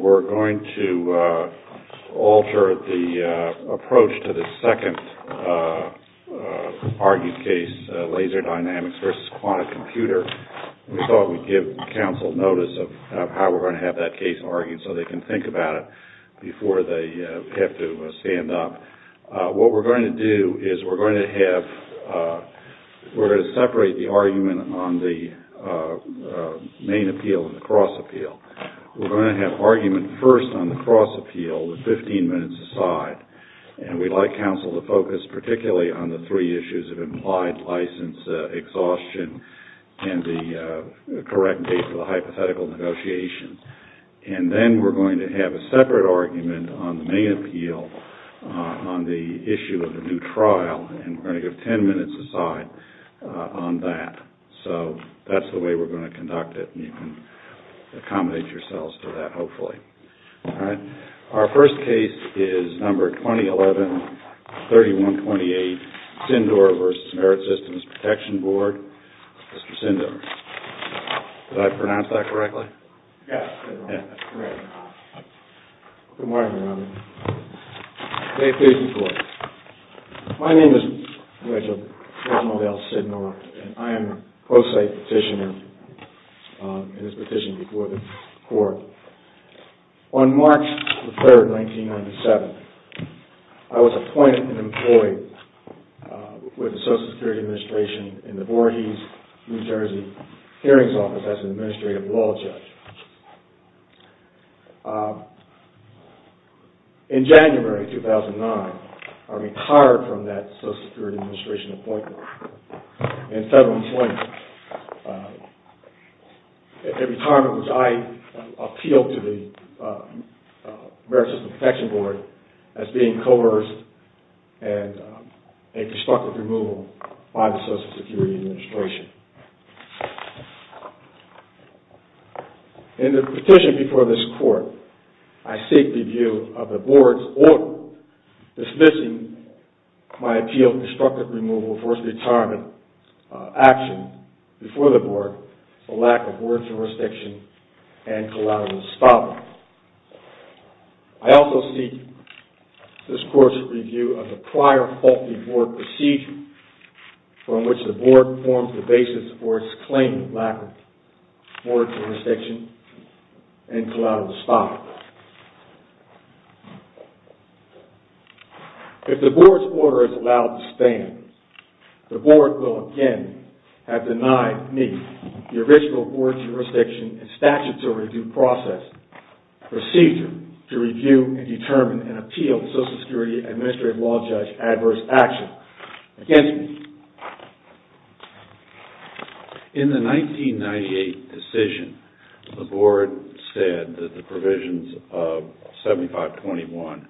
We're going to alter the approach to the second argued case, Laser Dynamics v. Quantic Computer. We thought we'd give counsel notice of how we're going to have that case argued so they can think about it before they have to stand up. What we're going to do is we're going to separate the argument on the main appeal and the cross appeal. We're going to have argument first on the cross appeal with 15 minutes aside, and we'd like counsel to focus particularly on the three issues of implied license exhaustion and the correct date for the hypothetical negotiation. And then we're going to have a separate argument on the main appeal on the issue of the new trial, and we're going to give 10 minutes aside on that. So that's the way we're going to conduct it, and you can accommodate yourselves to that, hopefully. All right. Our first case is number 2011-3128, Sindor v. Merit Systems Protection Board. Mr. Sindor, did I pronounce that correctly? Yes, that's correct. Good morning, everyone. May it please the Court. My name is Reginald L. Sindor, and I am a pro se petitioner in this petition before the Court. On March 3, 1997, I was appointed and employed with the Social Security Administration in the Voorhees, New Jersey, hearings office as an administrative law judge. In January 2009, I retired from that Social Security Administration appointment and federal employment, a retirement which I appealed to the Merit Systems Protection Board as being coerced and a destructive removal by the Social Security Administration. In the petition before this Court, I seek the view of the Board's order dismissing my appeal for a retirement action before the Board for lack of Board jurisdiction and collateral espionage. I also seek this Court's review of the prior faulty Board procedure from which the Board formed the basis for its claim of lack of Board jurisdiction and collateral espionage. If the Board's order is allowed to stand, the Board will again have denied me the original Board jurisdiction and statutory due process procedure to review and determine and appeal to Social Security Administrative Law Judge adverse action against me. In the 1998 decision, the Board said that the provisions of 7521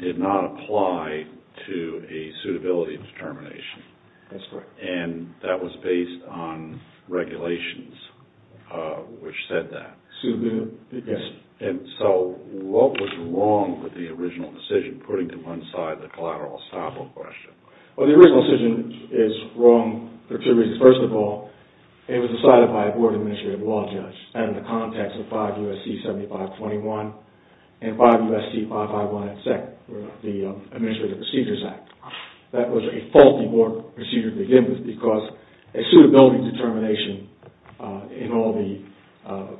did not apply to a suitability determination. That's correct. And that was based on regulations which said that. Suitability, yes. And so what was wrong with the original decision, putting to one side the collateral estoppel question? Well, the original decision is wrong for two reasons. First of all, it was decided by a Board Administrative Law Judge and in the context of 5 U.S.C. 7521 and 5 U.S.C. 551 at second, the Administrative Procedures Act. That was a faulty Board procedure to begin with because a suitability determination in all the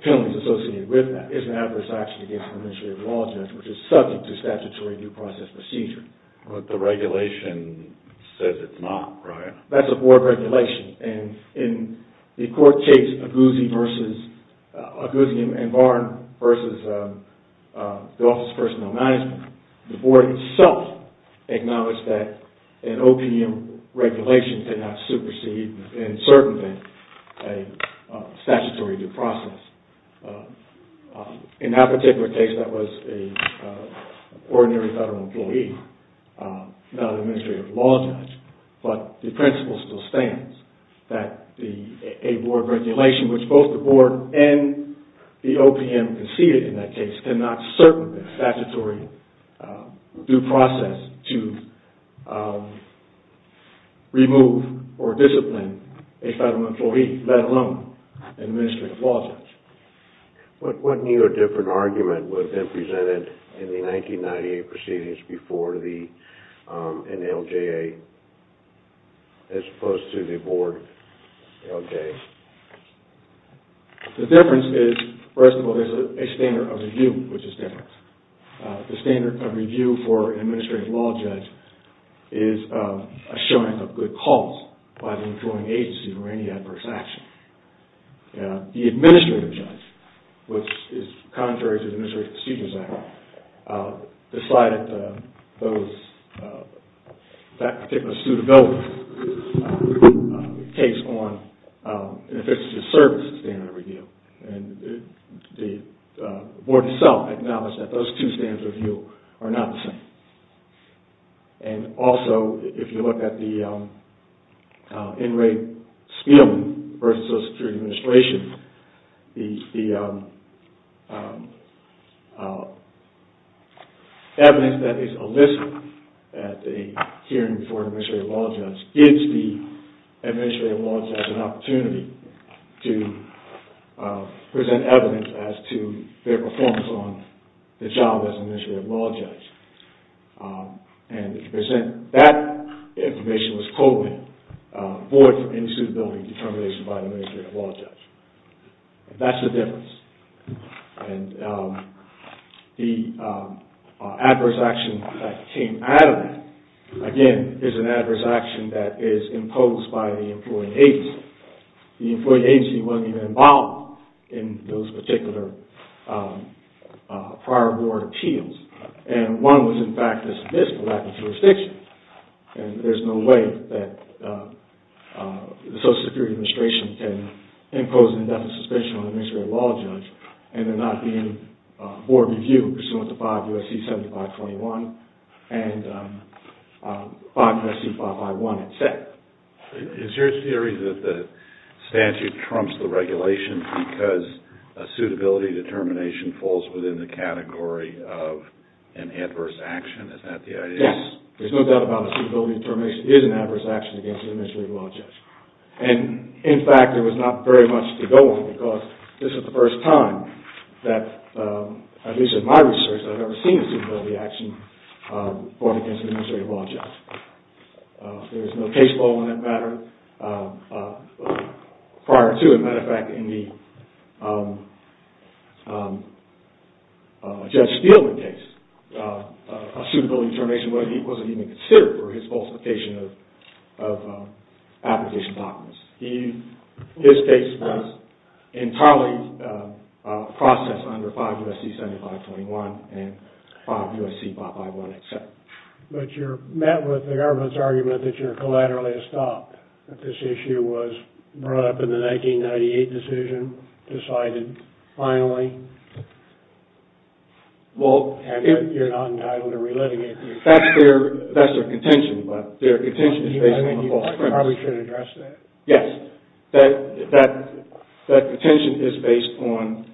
penalties associated with that is an adverse action against an Administrative Law Judge which is subject to statutory due process procedure. But the regulation says it's not, right? That's a Board regulation. And in the court case Aguzzi and Varn versus the Office of Personnel Management, the Board itself acknowledged that an OPM regulation cannot supersede and circumvent a statutory due process. In that particular case, that was an ordinary federal employee, not an Administrative Law Judge. But the principle still stands that a Board regulation which both the Board and the OPM conceded in that case cannot circumvent statutory due process to remove or discipline a federal employee, let alone an Administrative Law Judge. What new or different argument would have been presented in the 1998 proceedings before the NLJA as opposed to the Board NLJA? The difference is, first of all, there's a standard of review which is different. The standard of review for an Administrative Law Judge is a showing of good cause by the employing agency for any adverse action. The Administrative Judge, which is contrary to the Administrative Procedures Act, decided that that particular suitability takes on, in effect, a service standard of review. The Board itself acknowledged that those two standards of review are not the same. Also, if you look at the In Re Speum versus Social Security Administration, the evidence that is illicit at a hearing for an Administrative Law Judge gives the Administrative Law Judge an opportunity to present evidence as to their performance on the job as an Administrative Law Judge. And to present that information was coded void for any suitability determination by an Administrative Law Judge. That's the difference. The adverse action that came out of that, again, is an adverse action that is imposed by the employing agency. The employing agency wasn't even involved in those particular prior Board appeals. And one was, in fact, dismissed for lack of jurisdiction. And there's no way that the Social Security Administration can impose an indefinite suspension on an Administrative Law Judge and there not being Board review pursuant to 5 U.S.C. 7521 and 5 U.S.C. 551, et cetera. Is your theory that the statute trumps the regulations because a suitability determination falls within the category of an adverse action? Is that the idea? Yes. There's no doubt about it. A suitability determination is an adverse action against an Administrative Law Judge. And, in fact, there was not very much to go on because this is the first time that, at least in my research, I've ever seen a suitability action brought against an Administrative Law Judge. There's no case law in that matter prior to, as a matter of fact, in the Judge Steele case, a suitability determination wasn't even considered for his falsification of application documents. His case was entirely processed under 5 U.S.C. 7521 and 5 U.S.C. 551, et cetera. But you're met with the government's argument that you're collaterally stopped, that this issue was brought up in the 1998 decision, decided finally, and you're not entitled to relitigate. That's their contention, but their contention is based on a false premise. You probably should address that. Yes. That contention is based on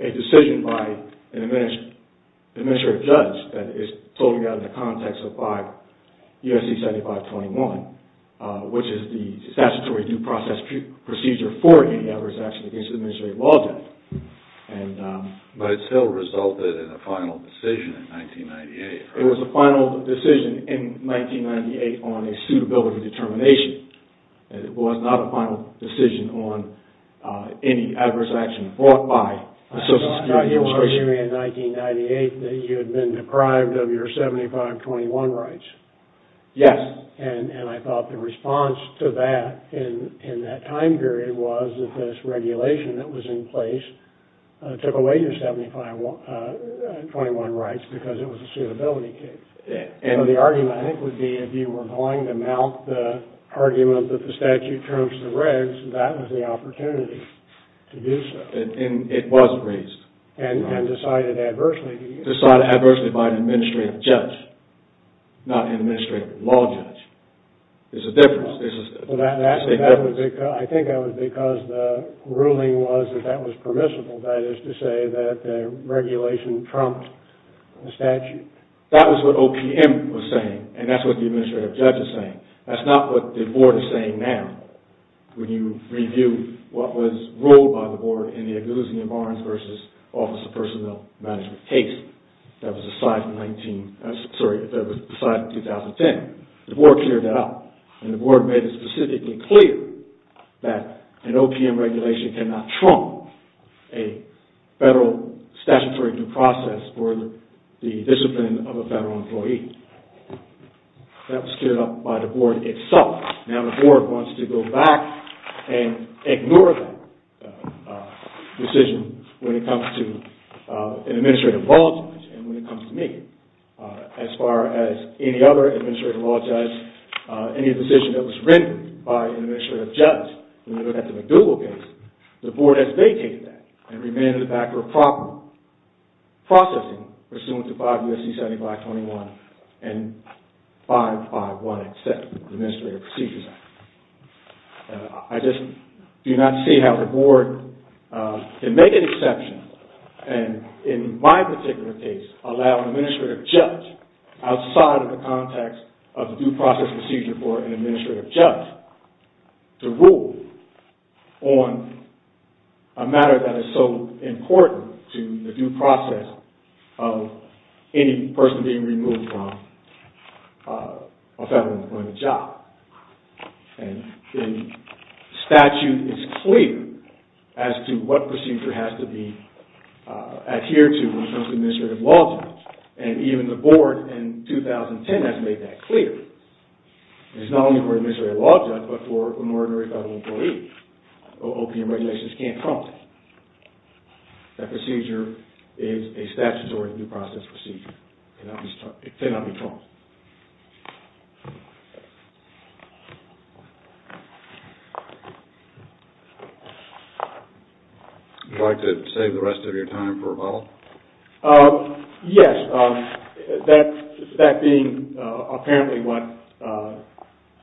a decision by an Administrative Judge that is totally out of the context of 5 U.S.C. 7521, which is the statutory due process procedure for any adverse action against an Administrative Law Judge. But it still resulted in a final decision in 1998. It was a final decision in 1998 on a suitability determination. It was not a final decision on any adverse action brought by a Social Security Administration. Now, you were arguing in 1998 that you had been deprived of your 7521 rights. Yes. And I thought the response to that in that time period was that this regulation that was in place took away your 7521 rights because it was a suitability case. And the argument, I think, would be if you were going to mount the argument that the statute trumps the regs, that was the opportunity to do so. And it wasn't raised. And decided adversely. Decided adversely by an Administrative Judge, not an Administrative Law Judge. There's a difference. I think that was because the ruling was that that was permissible. That is to say that the regulation trumped the statute. That was what OPM was saying. And that's what the Administrative Judge is saying. That's not what the Board is saying now. When you review what was ruled by the Board in the Agusian-Barnes v. Office of Personnel Management case, that was decided in 2010. The Board cleared that out. And the Board made it specifically clear that an OPM regulation cannot trump a federal statutory due process for the discipline of a federal employee. That was cleared up by the Board itself. Now the Board wants to go back and ignore that decision when it comes to an Administrative Law Judge and when it comes to me. As far as any other Administrative Law Judge, any decision that was rendered by an Administrative Judge, when you look at the McDougall case, the Board has vacated that and remained in the back of proper processing pursuant to 5 U.S.C. 7521 and 551X7, the Administrative Procedures Act. I just do not see how the Board can make an exception and, in my particular case, allow an Administrative Judge outside of the context of the due process procedure for an Administrative Judge to rule on a matter that is so important to the due process of any person being removed from a federal employment job. The statute is clear as to what procedure has to adhere to when it comes to Administrative Law Judge and even the Board in 2010 has made that clear. It is not only for an Administrative Law Judge but for an ordinary federal employee. OPM regulations cannot trump that. That procedure is a statutory due process procedure. It cannot be trumped. Would you like to save the rest of your time for rebuttal? Yes, that being apparently what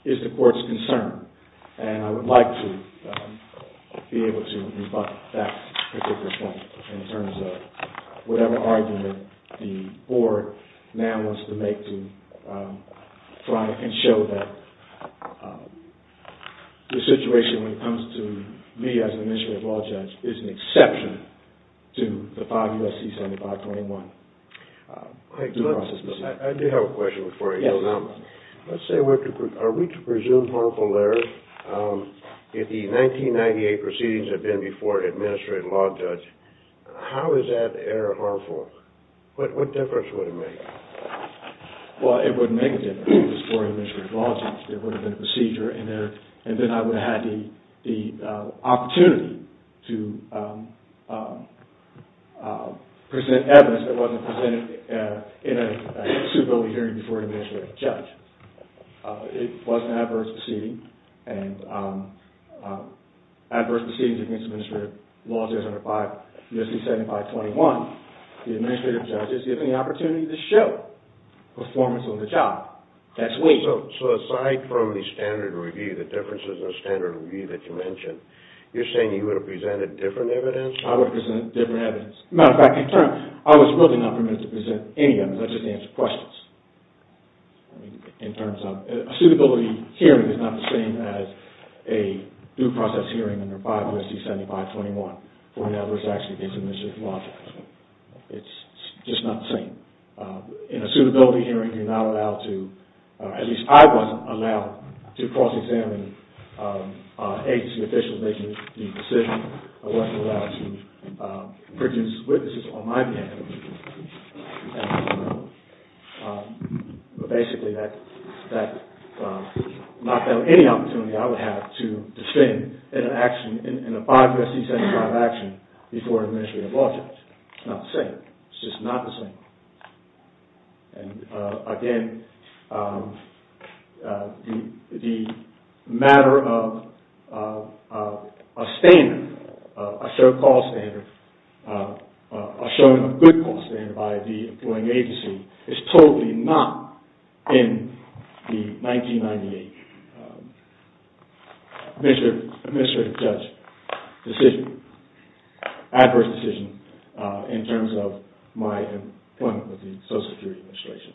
is the Court's concern. I would like to be able to rebut that particular point in terms of whatever argument the Board now wants to make to try and show that the situation when it comes to me as an Administrative Law Judge is an exception to the 5 U.S.C. 7521 due process procedure. I do have a question for you. Are we to presume harmful errors if the 1998 proceedings have been before an Administrative Law Judge? How is that error harmful? What difference would it make? Well, it would make a difference before an Administrative Law Judge. It would have been a procedure and then I would have had the opportunity to present evidence that wasn't presented in a suitability hearing before an Administrative Judge. It was an adverse proceeding and adverse proceedings against Administrative Law Judge under 5 U.S.C. 7521 The Administrative Judge is given the opportunity to show performance on the job. That's weak. So aside from the standard review, the differences in the standard review that you mentioned, you're saying you would have presented different evidence? I would have presented different evidence. As a matter of fact, in turn, I was really not permitted to present any evidence. I just answered questions. A suitability hearing is not the same as a due process hearing under 5 U.S.C. 7521 for an adverse action against an Administrative Law Judge. It's just not the same. In a suitability hearing, you're not allowed to, at least I wasn't allowed to cross-examine agency officials making the decision. I wasn't allowed to produce witnesses on my behalf. Basically, that knocked down any opportunity I would have to defend an action in a 5 U.S.C. 75 action before an Administrative Law Judge. It's not the same. It's just not the same. Again, the matter of a standard, a so-called standard, a so-called good standard by the employing agency is totally not in the 1998 Administrative Judge decision, adverse decision in terms of my employment with the Social Security Administration.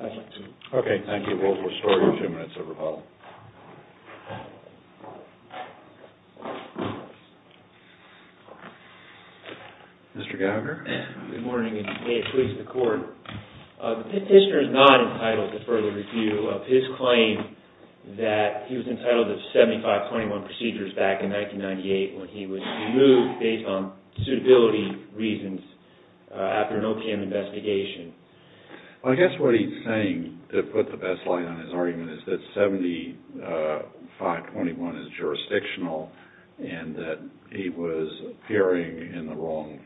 I'd like to... Okay, thank you. We'll restore your two minutes of rebuttal. Mr. Gallagher? Good morning and good day to the court. The petitioner is not entitled to further review of his claim that he was entitled to 7521 procedures back in 1998 when he was removed based on suitability reasons after an OPM investigation. Well, I guess what he's saying to put the best light on his argument is that 7521 is jurisdictional and that he was appearing in the wrong...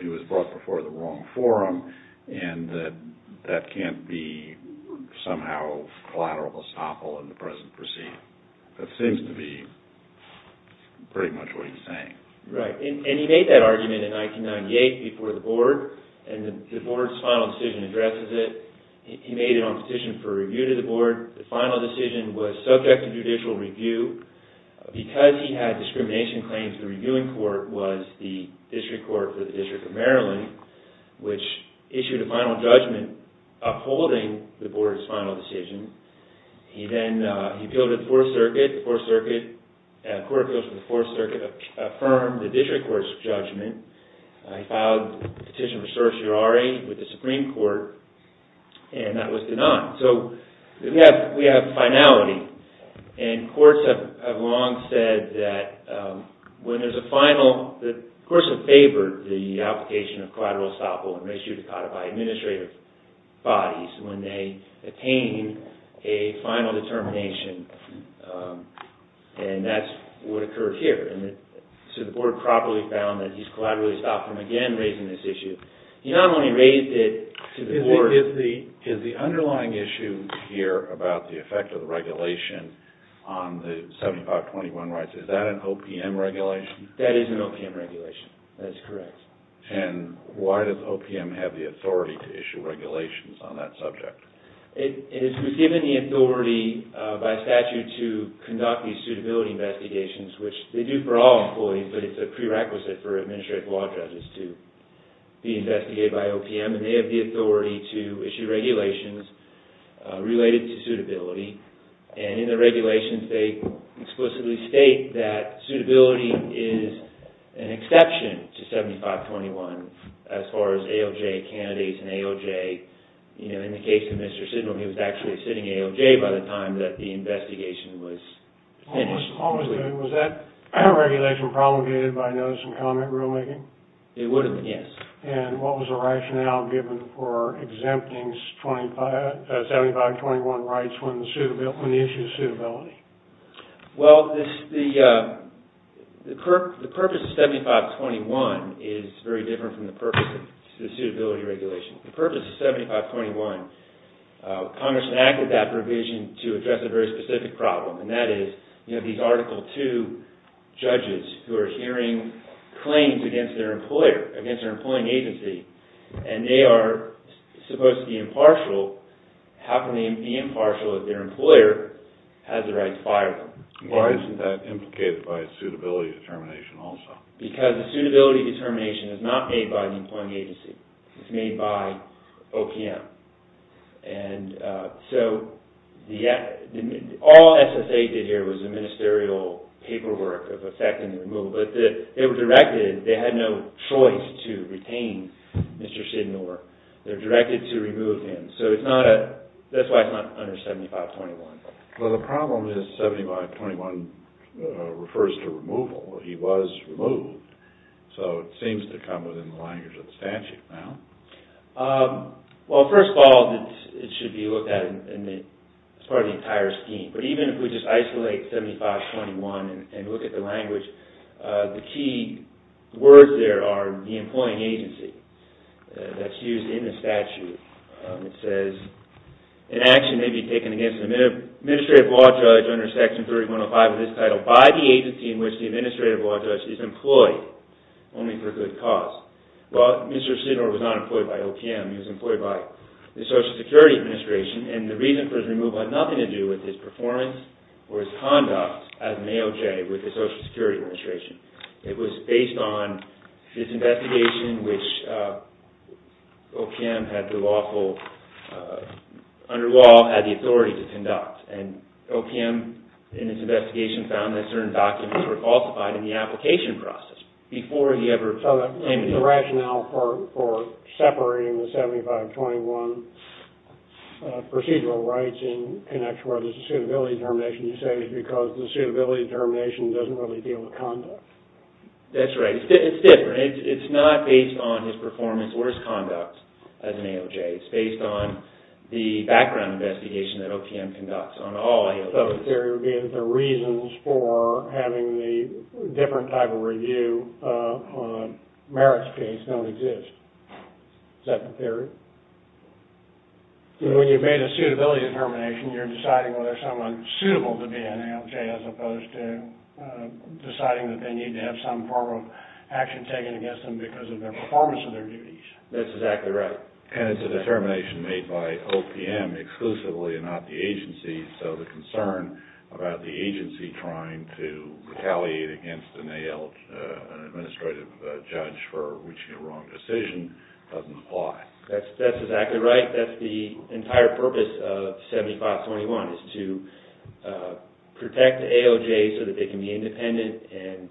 He was brought before the wrong forum and that that can't be somehow collateral estoppel in the present proceeding. That seems to be pretty much what he's saying. Right. And he made that argument in 1998 before the board and the board's final decision addresses it. He made it on petition for review to the board. The final decision was subject to judicial review. Because he had discrimination claims, the reviewing court was the district court for the District of Maryland, which issued a final judgment upholding the board's final decision. He then appealed to the Fourth Circuit. The Court of Appeals to the Fourth Circuit affirmed the district court's judgment. He filed a petition for certiorari with the Supreme Court and that was denied. We have finality. And courts have long said that when there's a final... The courts have favored the application of collateral estoppel and ratio de cauda by administrative bodies when they attain a final determination. And that's what occurred here. So the board probably found that he's collateral estoppel again raising this issue. He not only raised it to the board... Is the underlying issue here about the effect of the regulation on the 7521 rights, is that an OPM regulation? That is an OPM regulation. That's correct. And why does OPM have the authority to issue regulations on that subject? It was given the authority by statute to conduct these suitability investigations, which they do for all employees, but it's a prerequisite for administrative law judges to be investigated by OPM. And they have the authority to issue regulations related to suitability. And in the regulations they explicitly state that suitability is an exception to 7521 as far as AOJ candidates and AOJ... You know, in the case of Mr. Sidnall, he was actually sitting AOJ by the time that the investigation was finished. Was that regulation promulgated by notice and comment rulemaking? It would have been, yes. And what was the rationale given for exempting 7521 rights when the issue of suitability? Well, the purpose of 7521 is very different from the purpose of suitability regulation. The purpose of 7521, Congress enacted that provision to address a very specific problem, and that is these Article II judges who are hearing claims against their employer, against their employing agency, and they are supposed to be impartial. How can they be impartial if their employer has the right to fire them? Why isn't that implicated by suitability determination also? Because the suitability determination is not made by the employing agency. It's made by OPM. And so all SSA did here was the ministerial paperwork of effecting the removal. But they were directed, they had no choice to retain Mr. Sidnall. They were directed to remove him. So that's why it's not under 7521. Well, the problem is 7521 refers to removal. He was removed. So it seems to come within the language of the statute now. Well, first of all, it should be looked at as part of the entire scheme. But even if we just isolate 7521 and look at the language, the key words there are the employing agency. That's used in the statute. It says, an action may be taken against an administrative law judge under Section 3105 of this title by the agency in which the administrative law judge is employed, only for good cause. Well, Mr. Sidnall was not employed by OPM. He was employed by the Social Security Administration. And the reason for his removal had nothing to do with his performance or his conduct as an AOJ with the Social Security Administration. It was based on his investigation, which OPM had the lawful, under law, had the authority to conduct. And OPM, in its investigation, found that certain documents were falsified in the application process So the rationale for separating the 7521 procedural rights in connection with the suitability termination, you say, is because the suitability termination doesn't really deal with conduct. That's right. It's different. It's not based on his performance or his conduct as an AOJ. It's based on the background investigation that OPM conducts on all AOJs. So the theory would be that the reasons for having the different type of review on Merrick's case don't exist. Is that the theory? When you've made a suitability termination, you're deciding whether someone's suitable to be an AOJ, as opposed to deciding that they need to have some form of action taken against them because of their performance of their duties. That's exactly right. And it's a determination made by OPM exclusively and not the agency. So the concern about the agency trying to retaliate against an administrative judge for reaching a wrong decision doesn't apply. That's exactly right. That's the entire purpose of 7521, is to protect AOJs so that they can be independent.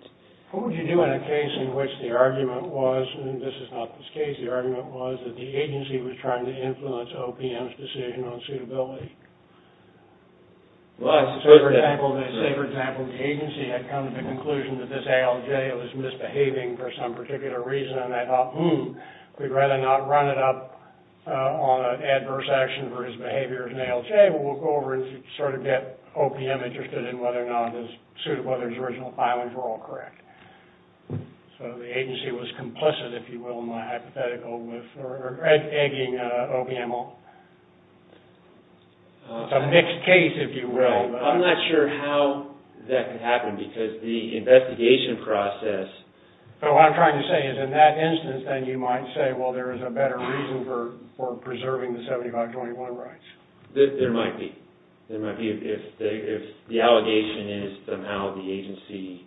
What would you do in a case in which the argument was, and this is not this case, that the agency was trying to influence OPM's decision on suitability? Well, let's say for example the agency had come to the conclusion that this AOJ was misbehaving for some particular reason, and they thought, hmm, we'd rather not run it up on adverse action for his behavior as an AOJ. We'll go over and sort of get OPM interested in whether or not his original filings were all correct. So the agency was complicit, if you will, in the hypothetical with egging OPM on it. It's a mixed case, if you will. I'm not sure how that could happen because the investigation process... What I'm trying to say is in that instance, then you might say, well, there is a better reason for preserving the 7521 rights. There might be. There might be if the allegation is somehow the agency...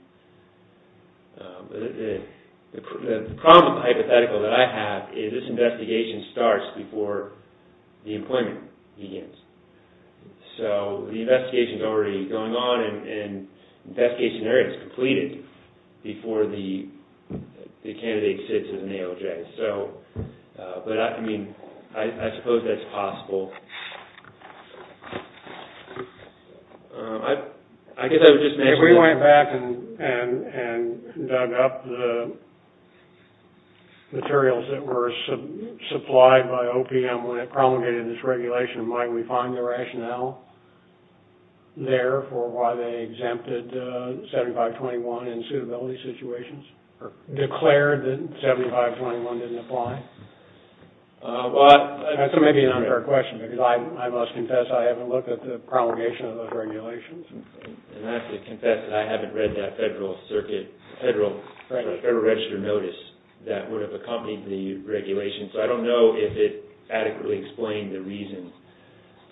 The problem with the hypothetical that I have is this investigation starts before the employment begins. So the investigation is already going on, and the investigation area is completed before the candidate sits as an AOJ. But I mean, I suppose that's possible. If we went back and dug up the materials that were supplied by OPM when it promulgated this regulation, might we find the rationale there for why they exempted 7521 in suitability situations or declared that 7521 didn't apply? That may be an unfair question because I must confess I haven't looked at the promulgation of those regulations. And I have to confess that I haven't read that Federal Register notice that would have accompanied the regulation. So I don't know if it adequately explained the reason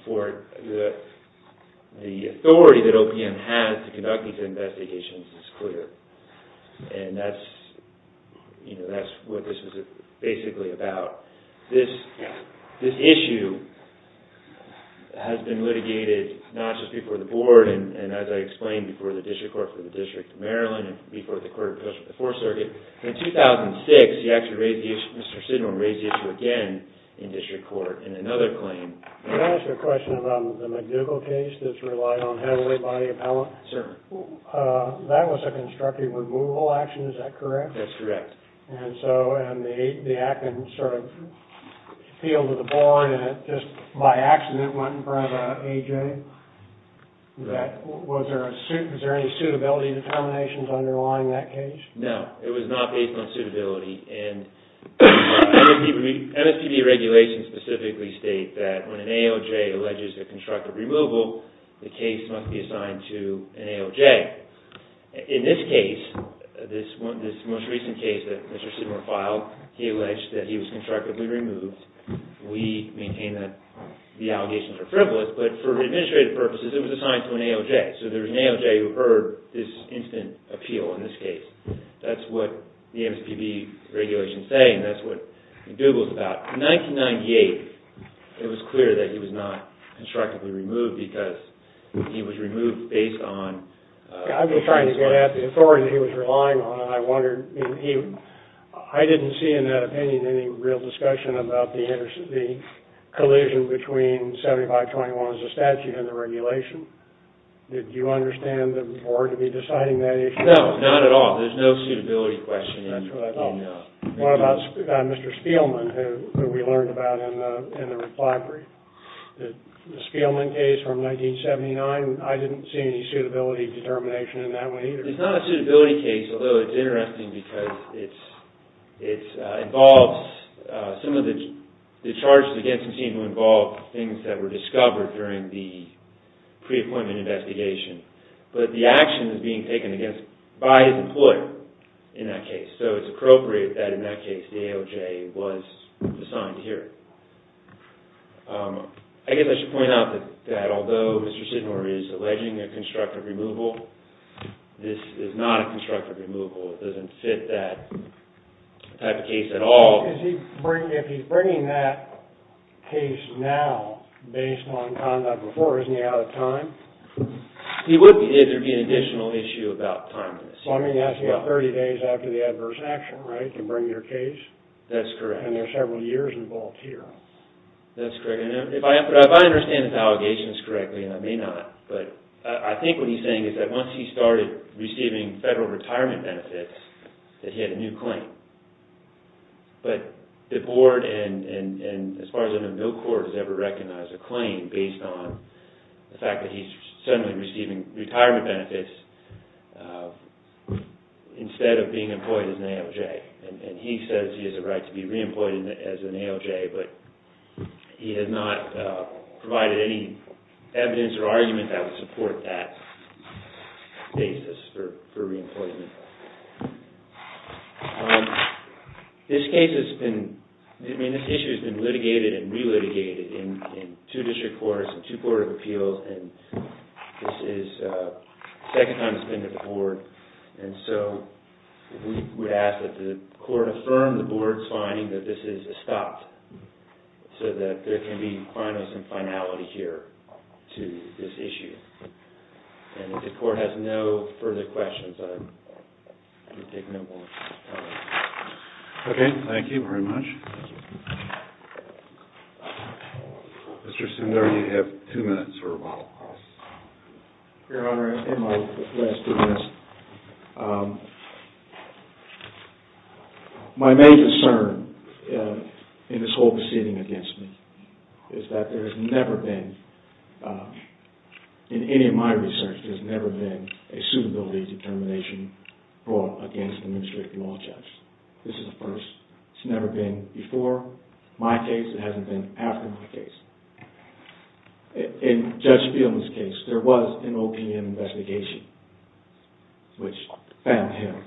for the authority that OPM has to conduct these investigations. It's clear. And that's what this is basically about. This issue has been litigated not just before the Board and, as I explained, before the District Court for the District of Maryland and before the Court of Appeals for the Fourth Circuit. In 2006, Mr. Sidner raised the issue again in District Court in another claim. Can I ask a question about the McDougall case that's relied on heavily by the appellant? Certainly. That was a constructive removal action, is that correct? That's correct. And so the appellant sort of appealed to the Board and it just by accident went in front of an AOJ. Was there any suitability determinations underlying that case? No, it was not based on suitability. MSPB regulations specifically state that when an AOJ alleges a constructive removal, the case must be assigned to an AOJ. In this case, this most recent case that Mr. Sidner filed, he alleged that he was constructively removed. We maintain that the allegations are frivolous, but for administrative purposes, it was assigned to an AOJ. So there was an AOJ who heard this instant appeal in this case. That's what the MSPB regulations say and that's what McDougall is about. In 1998, it was clear that he was not constructively removed because he was removed based on... I've been trying to get at the authority he was relying on. I didn't see in that opinion any real discussion about the collision between 7521 as a statute and the regulation. Did you understand the Board to be deciding that issue? No, not at all. There's no suitability question in that opinion. What about Mr. Spielman, who we learned about in the reply brief? The Spielman case from 1979, I didn't see any suitability determination in that one either. It's not a suitability case, although it's interesting because it involves some of the charges against him seem to involve things that were discovered during the pre-appointment investigation. But the action is being taken by his employer in that case, so it's appropriate that in that case the AOJ was assigned to hear it. I guess I should point out that although Mr. Sidnor is alleging a constructive removal, this is not a constructive removal. It doesn't fit that type of case at all. If he's bringing that case now based on conduct before, isn't he out of time? He would be if there was an additional issue about time. That's 30 days after the adverse action, right, to bring your case? That's correct. And there are several years involved here. That's correct. If I understand his allegations correctly, and I may not, but I think what he's saying is that once he started receiving federal retirement benefits, that he had a new claim. But the board, and as far as I know, no court has ever recognized a claim based on the fact that he's suddenly receiving retirement benefits instead of being employed as an AOJ. And he says he has a right to be re-employed as an AOJ, but he has not provided any evidence or argument that would support that basis for re-employment. This case has been, I mean, this issue has been litigated and re-litigated in two district courts and two court of appeals, and this is the second time it's been to the board. And so we would ask that the court affirm the board's finding that this is a stop, so that there can be fineness and finality here to this issue. And if the court has no further questions, I will take no more of your time. Okay, thank you very much. Mr. Sundari, you have two minutes or a while. Your Honor, in my last two minutes, my main concern in this whole proceeding against me is that there has never been, in any of my research, there's never been a suitability determination brought against an administrative law judge. This is the first. It's never been before my case. It hasn't been after my case. In Judge Spielman's case, there was an OPM investigation, which found him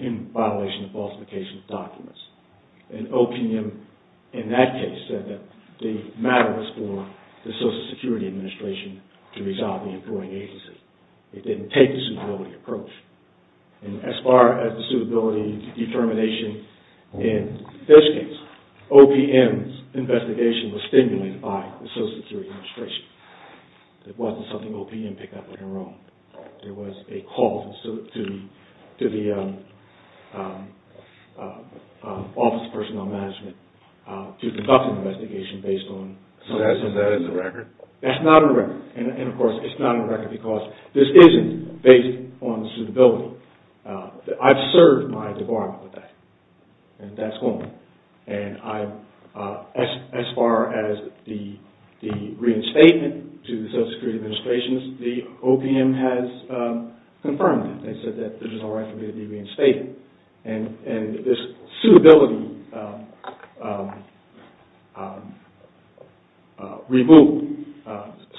in violation of falsification of documents. And OPM, in that case, said that the matter was for the Social Security Administration to resolve the employing agency. It didn't take the suitability approach. And as far as the suitability determination in this case, OPM's investigation was stimulated by the Social Security Administration. It wasn't something OPM picked up on their own. There was a call to the Office of Personnel Management to conduct an investigation based on... So that is a record? That's not a record. And, of course, it's not a record because this isn't based on suitability. I've served my debarment with that, and that's on me. And as far as the reinstatement to the Social Security Administration, the OPM has confirmed it. It said that there's no right for me to be reinstated. And this suitability removal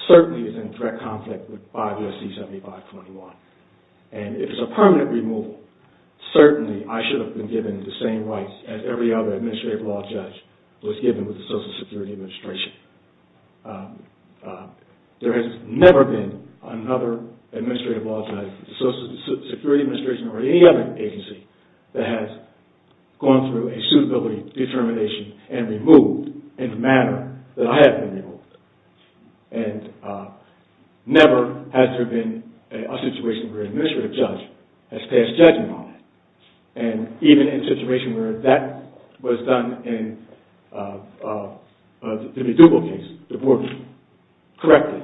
certainly is in direct conflict with 5 U.S.C. 7521. And if it's a permanent removal, certainly I should have been given the same rights as every other administrative law judge was given with the Social Security Administration. There has never been another administrative law judge, Social Security Administration or any other agency, that has gone through a suitability determination and removed in the manner that I have been removed. And never has there been a situation where an administrative judge has passed judgment on it. And even in a situation where that was done in the Dubois case, the board correctly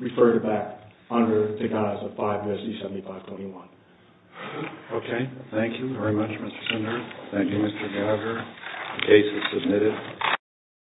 referred it back under the guise of 5 U.S.C. 7521. Okay. Thank you very much, Mr. Sundar. Thank you, Mr. Gallagher. The case is submitted.